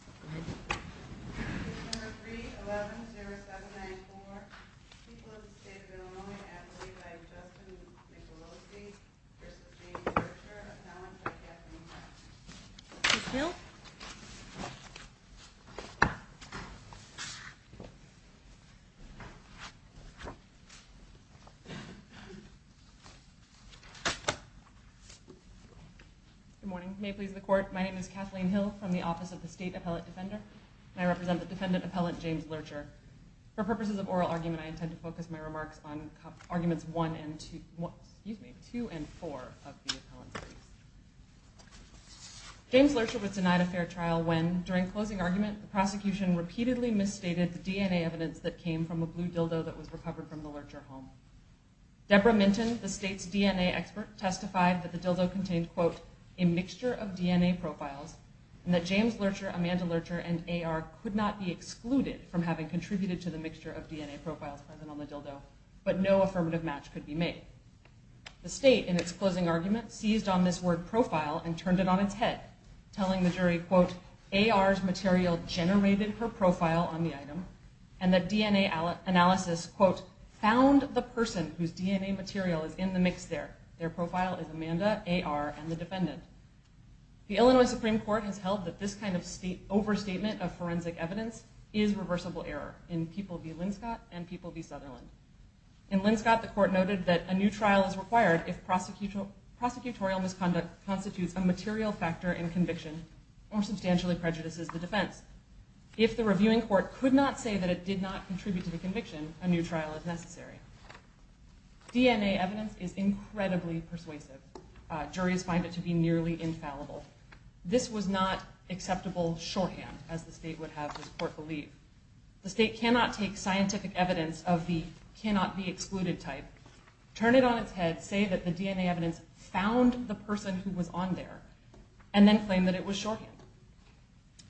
3, 11, 0, 7, 9, 4. People of the State of Illinois, an athlete by Justin Michalowski versus Jamie Lercher, acknowledged by Kathleen Hill. Ms. Hill? Good morning. May it please the Court, my name is Kathleen Hill from the Office of the State Appellate Defender, and I represent the defendant appellant James Lercher. For purposes of oral argument, I intend to focus my remarks on arguments 1 and 2, excuse me, 2 and 4 of the appellant's case. James Lercher was denied a fair trial when, during closing argument, the prosecution repeatedly misstated the DNA evidence that came from a blue dildo that was recovered from the Lercher home. Deborah Minton, the State's DNA expert, testified that the dildo contained, quote, a mixture of DNA profiles, and that James Lercher, Amanda Lercher, and A.R. could not be excluded from having contributed to the mixture of DNA profiles present on the dildo, but no affirmative match could be made. The State, in its closing argument, seized on this word profile and turned it on its head, telling the jury, quote, A.R.'s material generated her profile on the item, and that DNA analysis, quote, found the person whose DNA material is in the mix there. Their profile is Amanda, A.R., and the defendant. The Illinois Supreme Court has held that this kind of overstatement of forensic evidence is reversible error in People v. Linscott and People v. Sutherland. In Linscott, the court noted that a new trial is required if prosecutorial misconduct constitutes a material factor in conviction or substantially prejudices the defense. If the reviewing court could not say that it did not contribute to the conviction, a new trial is necessary. DNA evidence is incredibly persuasive. Juries find it to be nearly infallible. This was not acceptable shorthand, as the State would have this court believe. The State cannot take scientific evidence of the cannot-be-excluded type, turn it on its head, say that the DNA evidence found the person who was on there, and then claim that it was shorthand.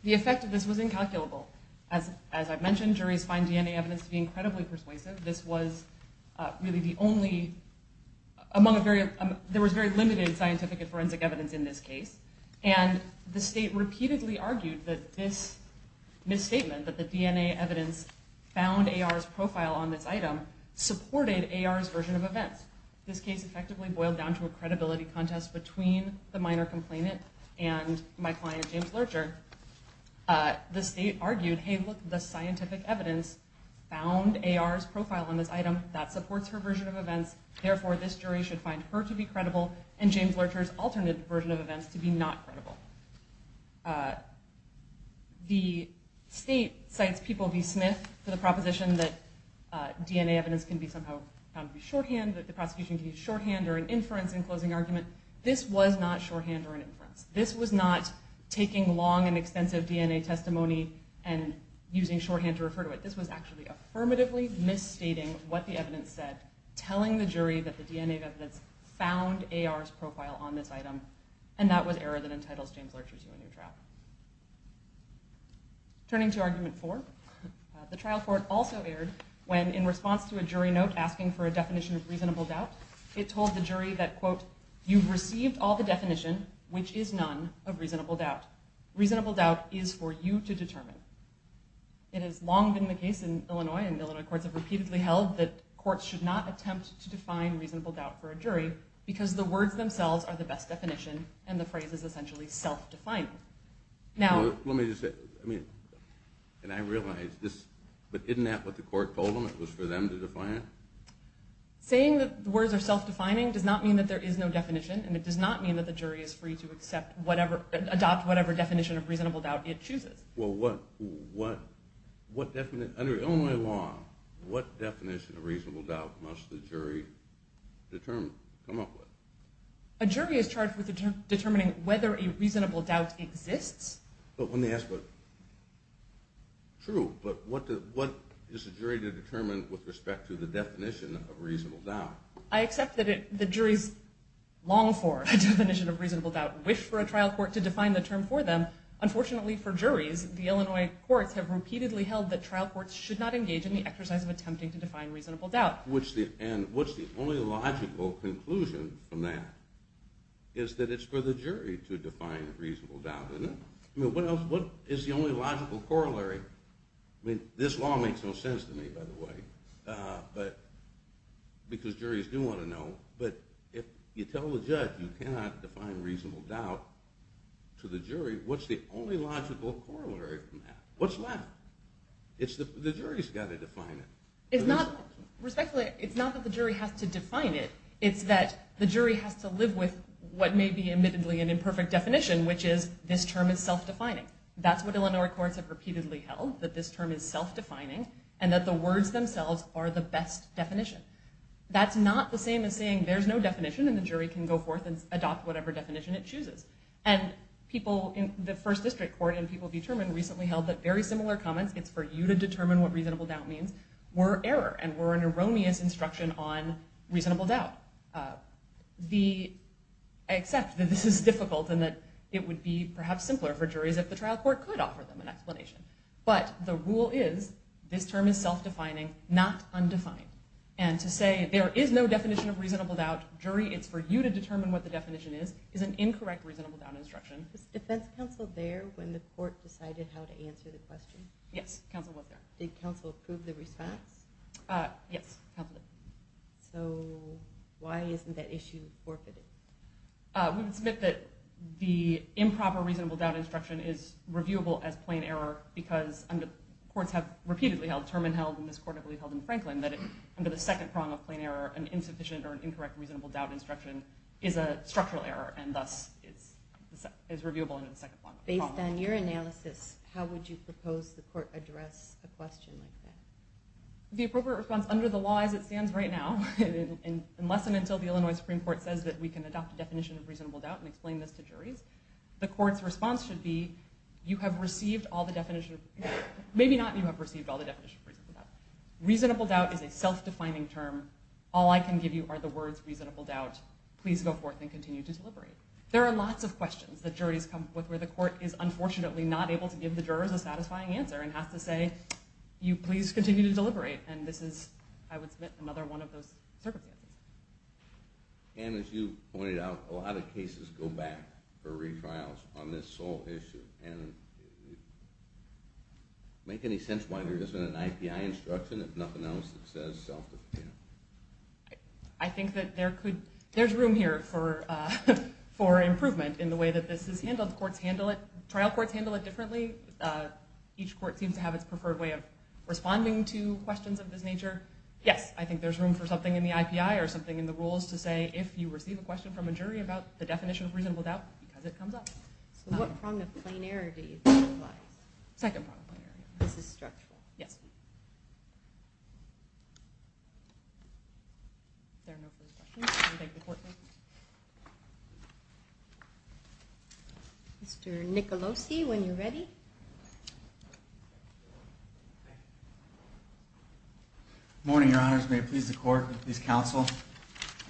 The effect of this was incalculable. As I've mentioned, juries find DNA evidence to be incredibly persuasive. There was very limited scientific and forensic evidence in this case, and the State repeatedly argued that this misstatement, that the DNA evidence found A.R.'s profile on this item, supported A.R.'s version of events. This case effectively boiled down to a credibility contest between the minor complainant and my client, James Lurcher. The State argued, hey, look, the scientific evidence found A.R.'s profile on this item. That supports her version of events. Therefore, this jury should find her to be credible, and James Lurcher's alternate version of events to be not credible. The State cites People v. Smith for the proposition that DNA evidence can be somehow found to be shorthand, that the prosecution can use shorthand or an inference in closing argument. This was not taking long and extensive DNA testimony and using shorthand to refer to it. This was actually affirmatively misstating what the evidence said, telling the jury that the DNA evidence found A.R.'s profile on this item, and that was error that entitles James Lurcher to a new trial. Turning to argument four, the trial court also erred when, in response to a jury note asking for a definition of reasonable doubt, it told the jury that, quote, you've received all the definition, which is none, of reasonable doubt. Reasonable doubt is for you to determine. It has long been the case in Illinois, and Illinois courts have repeatedly held that courts should not attempt to define reasonable doubt for a jury, because the words themselves are the best definition, and the phrase is essentially self-defining. Now, let me just say, I mean, and I realize this, but isn't that what the court told them? It was for them to define it? Saying that the words are self-defining does not mean that there is no definition, and it does not mean that the jury is free to accept whatever, adopt whatever definition of reasonable doubt it chooses. Well, what definition, under Illinois law, what definition of reasonable doubt must the jury determine, come up with? A jury is charged with determining whether a reasonable doubt exists. Let me ask, but, true, but what is a jury to determine with respect to the definition of reasonable doubt? I accept that the jury's long for a definition of reasonable doubt, wish for a trial court to define the term for them. Unfortunately for juries, the Illinois courts have repeatedly held that trial courts should not engage in the exercise of attempting to define reasonable doubt. And what's the only logical conclusion from that is that it's for the jury to define reasonable doubt, isn't it? I mean, what else, what is the only logical corollary? I mean, this law makes no sense to me, by the way, because juries do want to know, but if you tell the judge you cannot define reasonable doubt to the jury, what's the only logical corollary from that? What's left? The jury's got to define it. Respectfully, it's not that the jury has to define it, it's that the jury has to live with what may be admittedly an imperfect definition, which is this term is self-defining. That's what Illinois courts have repeatedly held, that this term is self-defining, and that the words themselves are the best definition. That's not the same as saying there's no definition and the jury can go forth and adopt whatever definition it chooses. And people in the First District Court and people determined recently held that very similar comments, it's for you to determine what reasonable doubt means, were error and were an erroneous instruction on reasonable doubt. I accept that this is difficult and that it would be perhaps simpler for juries if the trial court could offer them an explanation, but the rule is this term is self-defining, not undefined. And to say there is no definition of reasonable doubt, jury it's for you to determine what the definition is, is an incorrect reasonable doubt instruction. Was defense counsel there when the court decided how to answer the question? Yes, counsel was there. Did counsel approve the response? Yes. So why isn't that issue forfeited? We would submit that the improper reasonable doubt instruction is reviewable as plain error because courts have repeatedly held, Terman held and this court I believe held in Franklin, that under the second prong of plain error, an insufficient or an incorrect reasonable doubt instruction is a structural error and thus is reviewable under the second prong. Based on your analysis, how would you propose the court address a question like that? The appropriate response under the law as it stands right now, unless and until the Illinois Supreme Court says that we can adopt a definition of reasonable doubt and explain this to juries, the court's response should be you have received all the definitions, maybe not you have received all the definitions of reasonable doubt. Reasonable doubt is a self-defining term. All I can give you are the words reasonable doubt. Please go forth and continue to deliberate. There are lots of questions that juries come up with where the court is unfortunately not able to give the jurors a satisfying answer and has to say you please continue to deliberate. And this is, I would submit, another one of those circumstances. And as you pointed out, a lot of cases go back for retrials on this sole issue. And make any sense why there isn't an IPI instruction, if nothing else, that says self-define? I think that there could, there's room here for improvement in the way that this is handled. Courts handle it, trial courts handle it differently. Each court seems to have its preferred way of responding to questions of this nature. Yes, I think there's room for something in the IPI or something in the rules to say if you receive a question from a jury about the definition of reasonable doubt, because it comes up. So what prong of planarity do you think applies? Second prong of planarity. This is structural. Yes. Thank you. Mr. Nicolosi, when you're ready. Good morning, Your Honors. May it please the court, please counsel.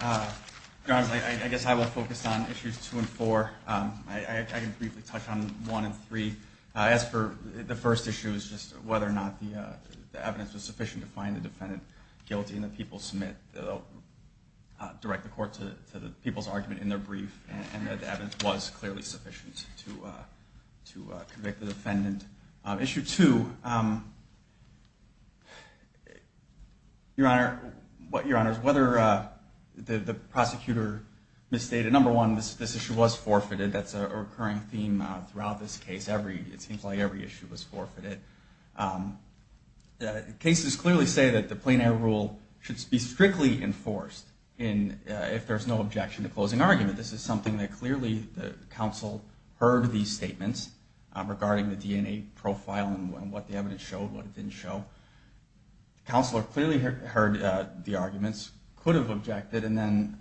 Your Honors, I guess I will focus on issues two and four. I can briefly touch on one and three. As for the first issue is just whether or not the evidence was sufficient to find the defendant guilty and the people submit, direct the court to the people's argument in their brief and that the evidence was clearly sufficient to convict the defendant. Issue two, Your Honor, whether the prosecutor misstated, number one, this issue was forfeited. That's a recurring theme throughout this case. It seems like every issue was forfeited. Cases clearly say that the plein air rule should be strictly enforced if there's no objection to closing argument. This is something that clearly the counsel heard these statements regarding the DNA profile and what the evidence showed, what it didn't show. The counselor clearly heard the arguments, could have objected, and then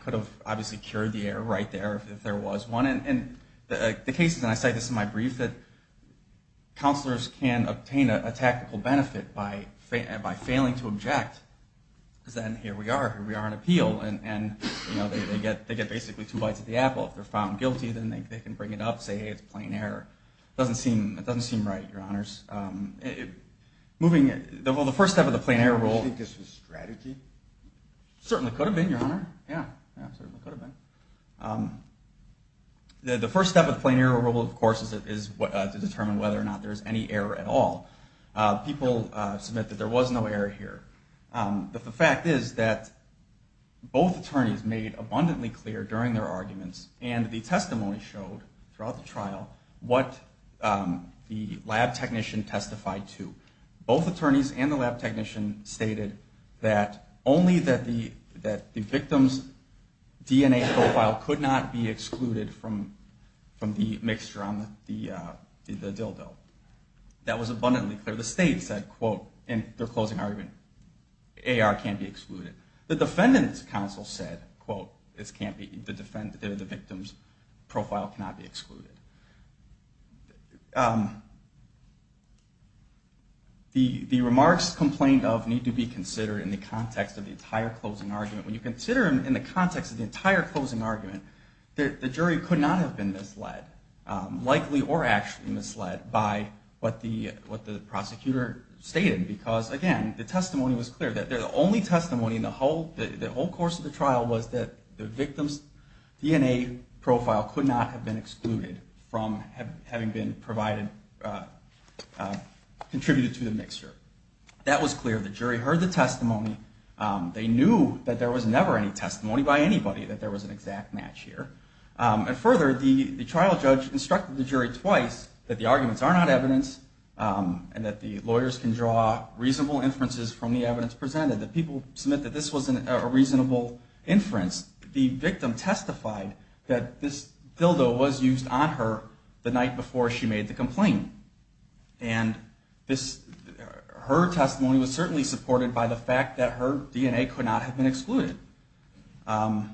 could have obviously cured the error right there if there was one. And the cases, and I say this in my brief, that counselors can obtain a tactical benefit by failing to object because then here we are, here we are on appeal, and they get basically two bites of the apple. If they're found guilty, then they can bring it up, say, hey, it's plein air. It doesn't seem right, Your Honors. Moving, well, the first step of the plein air rule. Do you think this was strategy? It certainly could have been, Your Honor. Yeah, it certainly could have been. The first step of the plein air rule, of course, is to determine whether or not there's any error at all. People submit that there was no error here. But the fact is that both attorneys made abundantly clear during their arguments and the testimony showed throughout the trial what the lab technician testified to. Both attorneys and the lab technician stated that only that the victim's DNA profile could not be excluded from the mixture on the dildo. That was abundantly clear. The state said, quote, in their closing argument, AR can't be excluded. The defendant's counsel said, quote, the victim's profile cannot be excluded. The remarks complained of need to be considered in the context of the entire closing argument. When you consider them in the context of the entire closing argument, the jury could not have been misled, likely or actually misled, by what the prosecutor stated. Because again, the testimony was clear. The only testimony in the whole course of the trial was that the victim's DNA profile could not have been excluded from having been contributed to the mixture. That was clear. The jury heard the testimony. They knew that there was never any testimony by anybody that there was an exact match here. And further, the trial judge instructed the jury twice that the arguments are not evidence and that the lawyers can draw reasonable inferences from the evidence presented. The people submit that this wasn't a reasonable inference. The victim testified that this dildo was used on her the night before she made the complaint. And her testimony was certainly supported by the fact that her DNA could not have been excluded. Further,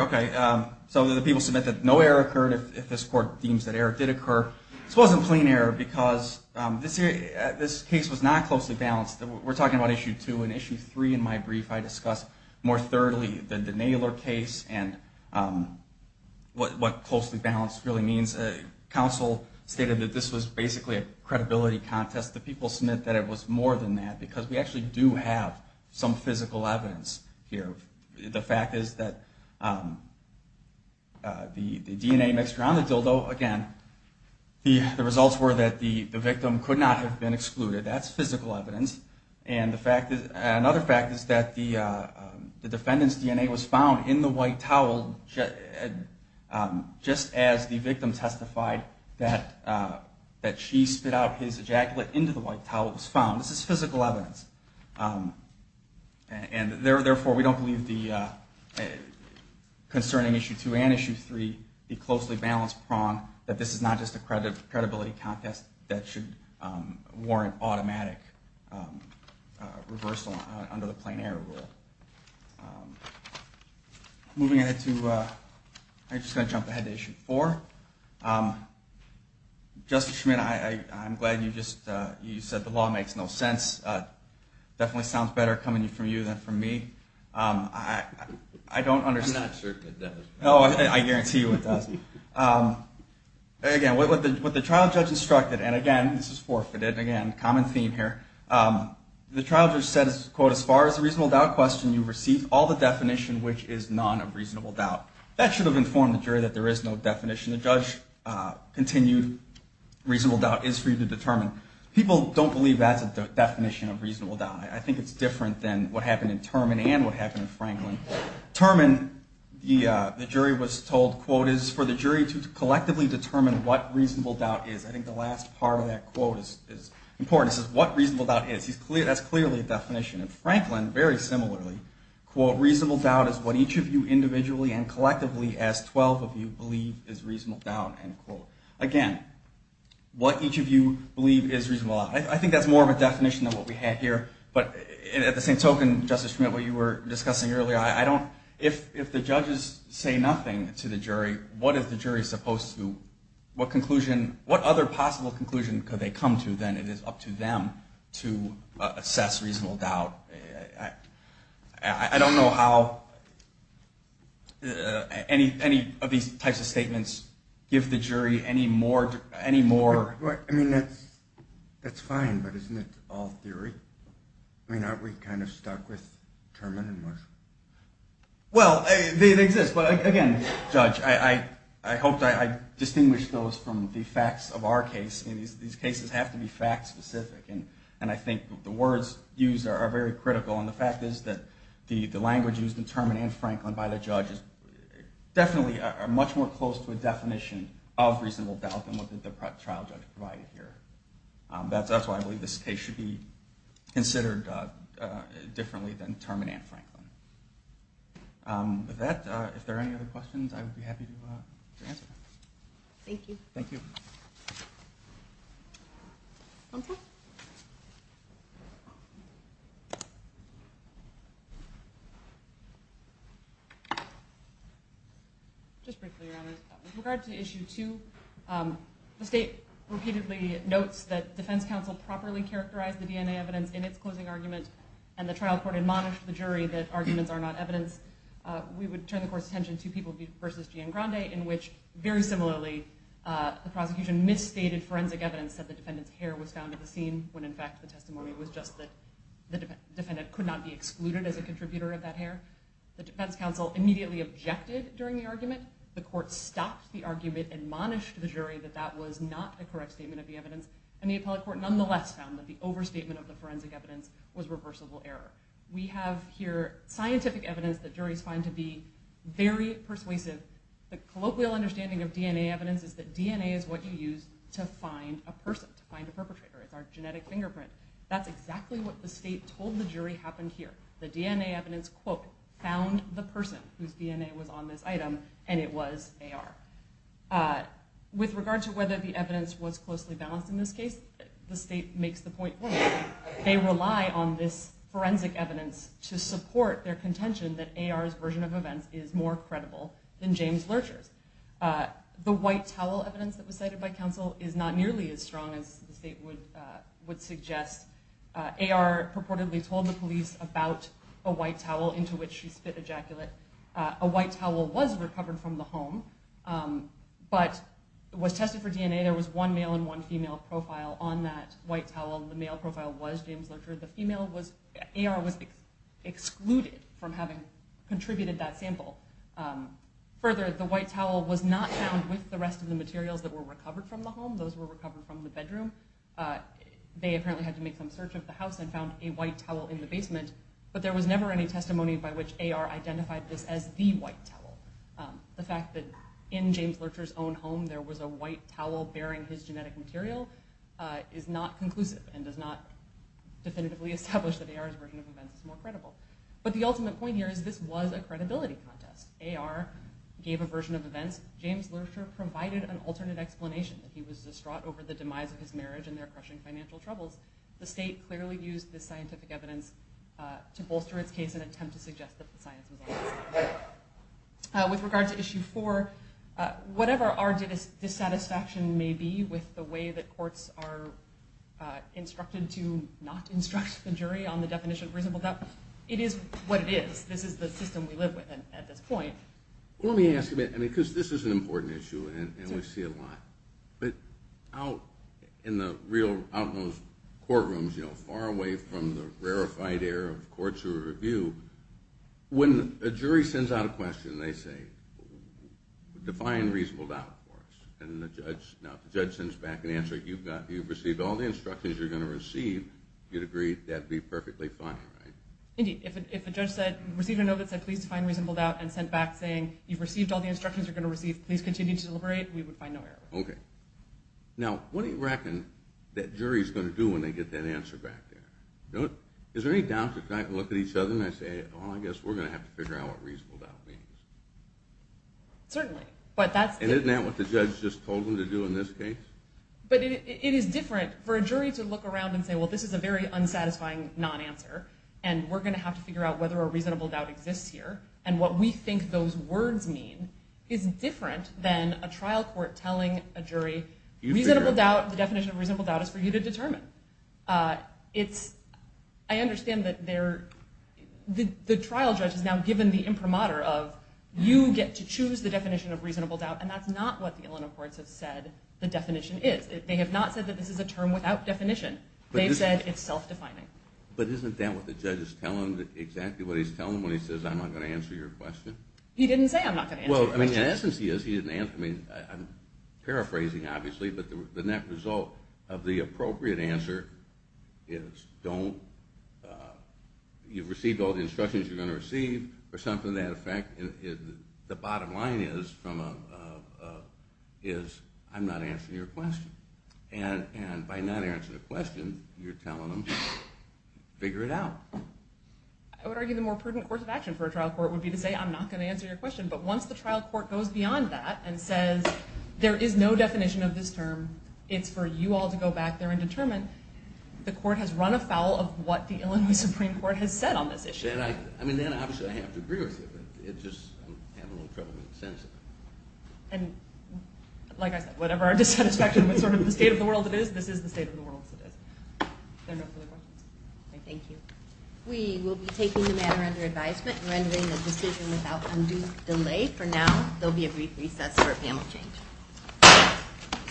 okay, so the people submit that no error occurred if this court deems that error did occur. This wasn't plain error because this case was not closely balanced. We're talking about Issue 2. In Issue 3 in my brief, I discuss more thoroughly the Naylor case and what closely balanced really means. Counsel stated that this was basically a credibility contest. The people submit that it was more than that because we actually do have some physical evidence here. The fact is that the DNA mixture on the dildo, again, the results were that the victim could not have been excluded. That's physical evidence. And another fact is that the defendant's DNA was found in the white towel just as the victim testified that she spit out his ejaculate into the white towel was found. This is physical evidence. And therefore, we don't believe concerning Issue 2 and Issue 3, the closely balanced prong, that this is not just a credibility contest that should warrant automatic reversal under the plain error rule. Moving ahead to, I'm just going to jump ahead to Issue 4. Justice Schmitt, I'm glad you said the law makes no sense. It definitely sounds better coming from you than from me. I don't understand. I'm not certain it does. Oh, I guarantee you it does. Again, what the trial judge instructed, and again, this is forfeited, again, common theme here. The trial judge said, quote, as far as the reasonable doubt question, you've received all the definition, which is none of reasonable doubt. That should have informed the jury that there is no definition. The judge continued, reasonable doubt is for you to determine. People don't believe that's a definition of reasonable doubt. I think it's different than what happened in Turman and what happened in Franklin. Turman, the jury was told, quote, is for the jury to collectively determine what reasonable doubt is. I think the last part of that quote is important. This is what reasonable doubt is. That's clearly a definition. Franklin, very similarly, quote, reasonable doubt is what each of you individually and collectively as 12 of you believe is reasonable doubt, end quote. Again, what each of you believe is reasonable doubt. I think that's more of a definition than what we have here, but at the same token, Justice Schmitt, what you were discussing earlier, if the judges say nothing to the jury, what is the jury supposed to, what conclusion, what other possible conclusion could they come to then? It is up to them to assess reasonable doubt. I don't know how any of these types of statements give the jury any more. I mean, that's fine, but isn't it all theory? I mean, aren't we kind of stuck with Turman and Marshall? Well, they exist, but again, Judge, I hope I distinguished those from the facts of our case. These cases have to be fact-specific, and I think the words used are very critical, and the fact is that the language used in Turman and Franklin by the judges definitely are much more close to a definition of reasonable doubt than what the trial judge provided here. That's why I believe this case should be considered differently than Turman and Franklin. With that, if there are any other questions, I would be happy to answer them. Thank you. Thank you. One second. Just briefly, Your Honor, with regard to Issue 2, the State repeatedly notes that Defense Counsel properly characterized the DNA evidence in its closing argument, and the trial court admonished the jury that arguments are not evidence. We would turn the Court's attention to People v. Giangrande, in which, very similarly, the prosecution misstated forensic evidence that the defendant's hair was found at the scene, when in fact the testimony was just that the defendant could not be excluded as a contributor of that hair. The Defense Counsel immediately objected during the argument. The Court stopped the argument, admonished the jury that that was not a correct statement of the evidence, and the appellate court nonetheless found that the overstatement of the forensic evidence was reversible error. We have here scientific evidence that juries find to be very persuasive. The colloquial understanding of DNA evidence is that DNA is what you use to find a person, to find a perpetrator. It's our genetic fingerprint. That's exactly what the State told the jury happened here. The DNA evidence, quote, found the person whose DNA was on this item, and it was AR. With regard to whether the evidence was closely balanced in this case, the State makes the point that they rely on this forensic evidence to support their contention that AR's version of events is more credible than James Lurcher's. The white towel evidence that was cited by counsel is not nearly as strong as the State would suggest. AR purportedly told the police about a white towel into which she spit ejaculate. A white towel was recovered from the home but was tested for DNA. There was one male and one female profile on that white towel. The male profile was James Lurcher. AR was excluded from having contributed that sample. Further, the white towel was not found with the rest of the materials that were recovered from the home. Those were recovered from the bedroom. They apparently had to make some search of the house and found a white towel in the basement, but there was never any testimony by which AR identified this as the white towel. The fact that in James Lurcher's own home there was a white towel bearing his genetic material is not conclusive and does not definitively establish that AR's version of events is more credible. But the ultimate point here is this was a credibility contest. AR gave a version of events. James Lurcher provided an alternate explanation, that he was distraught over the demise of his marriage and their crushing financial troubles. The State clearly used this scientific evidence to bolster its case in an attempt to suggest that the science was on its side. With regard to issue four, whatever our dissatisfaction may be with the way that courts are instructed to not instruct the jury on the definition of reasonable doubt, it is what it is. This is the system we live with at this point. Let me ask a bit, because this is an important issue and we see it a lot. But out in the real, out in those courtrooms, far away from the rarefied air of courts or review, when a jury sends out a question, they say, define reasonable doubt for us. And the judge, now if the judge sends back an answer, you've received all the instructions you're going to receive, you'd agree that'd be perfectly fine, right? Indeed. If a judge said, received a note that said, please define reasonable doubt and sent back saying, you've received all the instructions you're going to receive, please continue to deliberate, we would find no error. Okay. Now what do you reckon that jury's going to do when they get that answer back there? Is there any doubt that they look at each other and say, well I guess we're going to have to figure out what reasonable doubt means? Certainly. And isn't that what the judge just told them to do in this case? But it is different for a jury to look around and say, well this is a very unsatisfying non-answer, and we're going to have to figure out whether a reasonable doubt exists here. And what we think those words mean is different than a trial court telling a jury, reasonable doubt, the definition of reasonable doubt is for you to determine. It's, I understand that they're, the trial judge has now given the imprimatur of, you get to choose the definition of reasonable doubt, and that's not what the Illinois courts have said the definition is. They have not said that this is a term without definition. They've said it's self-defining. But isn't that what the judge is telling them, exactly what he's telling them when he says, I'm not going to answer your question? He didn't say I'm not going to answer your question. Well, in essence he is, he didn't answer, I mean, I'm paraphrasing obviously, but the net result of the appropriate answer is don't, you've received all the instructions you're going to receive, or something to that effect. The bottom line is from a, is I'm not answering your question. And by not answering the question, you're telling them, figure it out. I would argue the more prudent course of action for a trial court would be to say, I'm not going to answer your question. But once the trial court goes beyond that and says, there is no definition of this term, it's for you all to go back there and determine, the court has run afoul of what the Illinois Supreme Court has said on this issue. I mean, then obviously I have to agree with you. It's just, I'm having a little trouble with the sense of it. And like I said, whatever our dissatisfaction with sort of the state of the world it is, this is the state of the world as it is. Is there no further questions? Thank you. We will be taking the matter under advisement and rendering the decision without undue delay. For now, there will be a brief recess for panel change.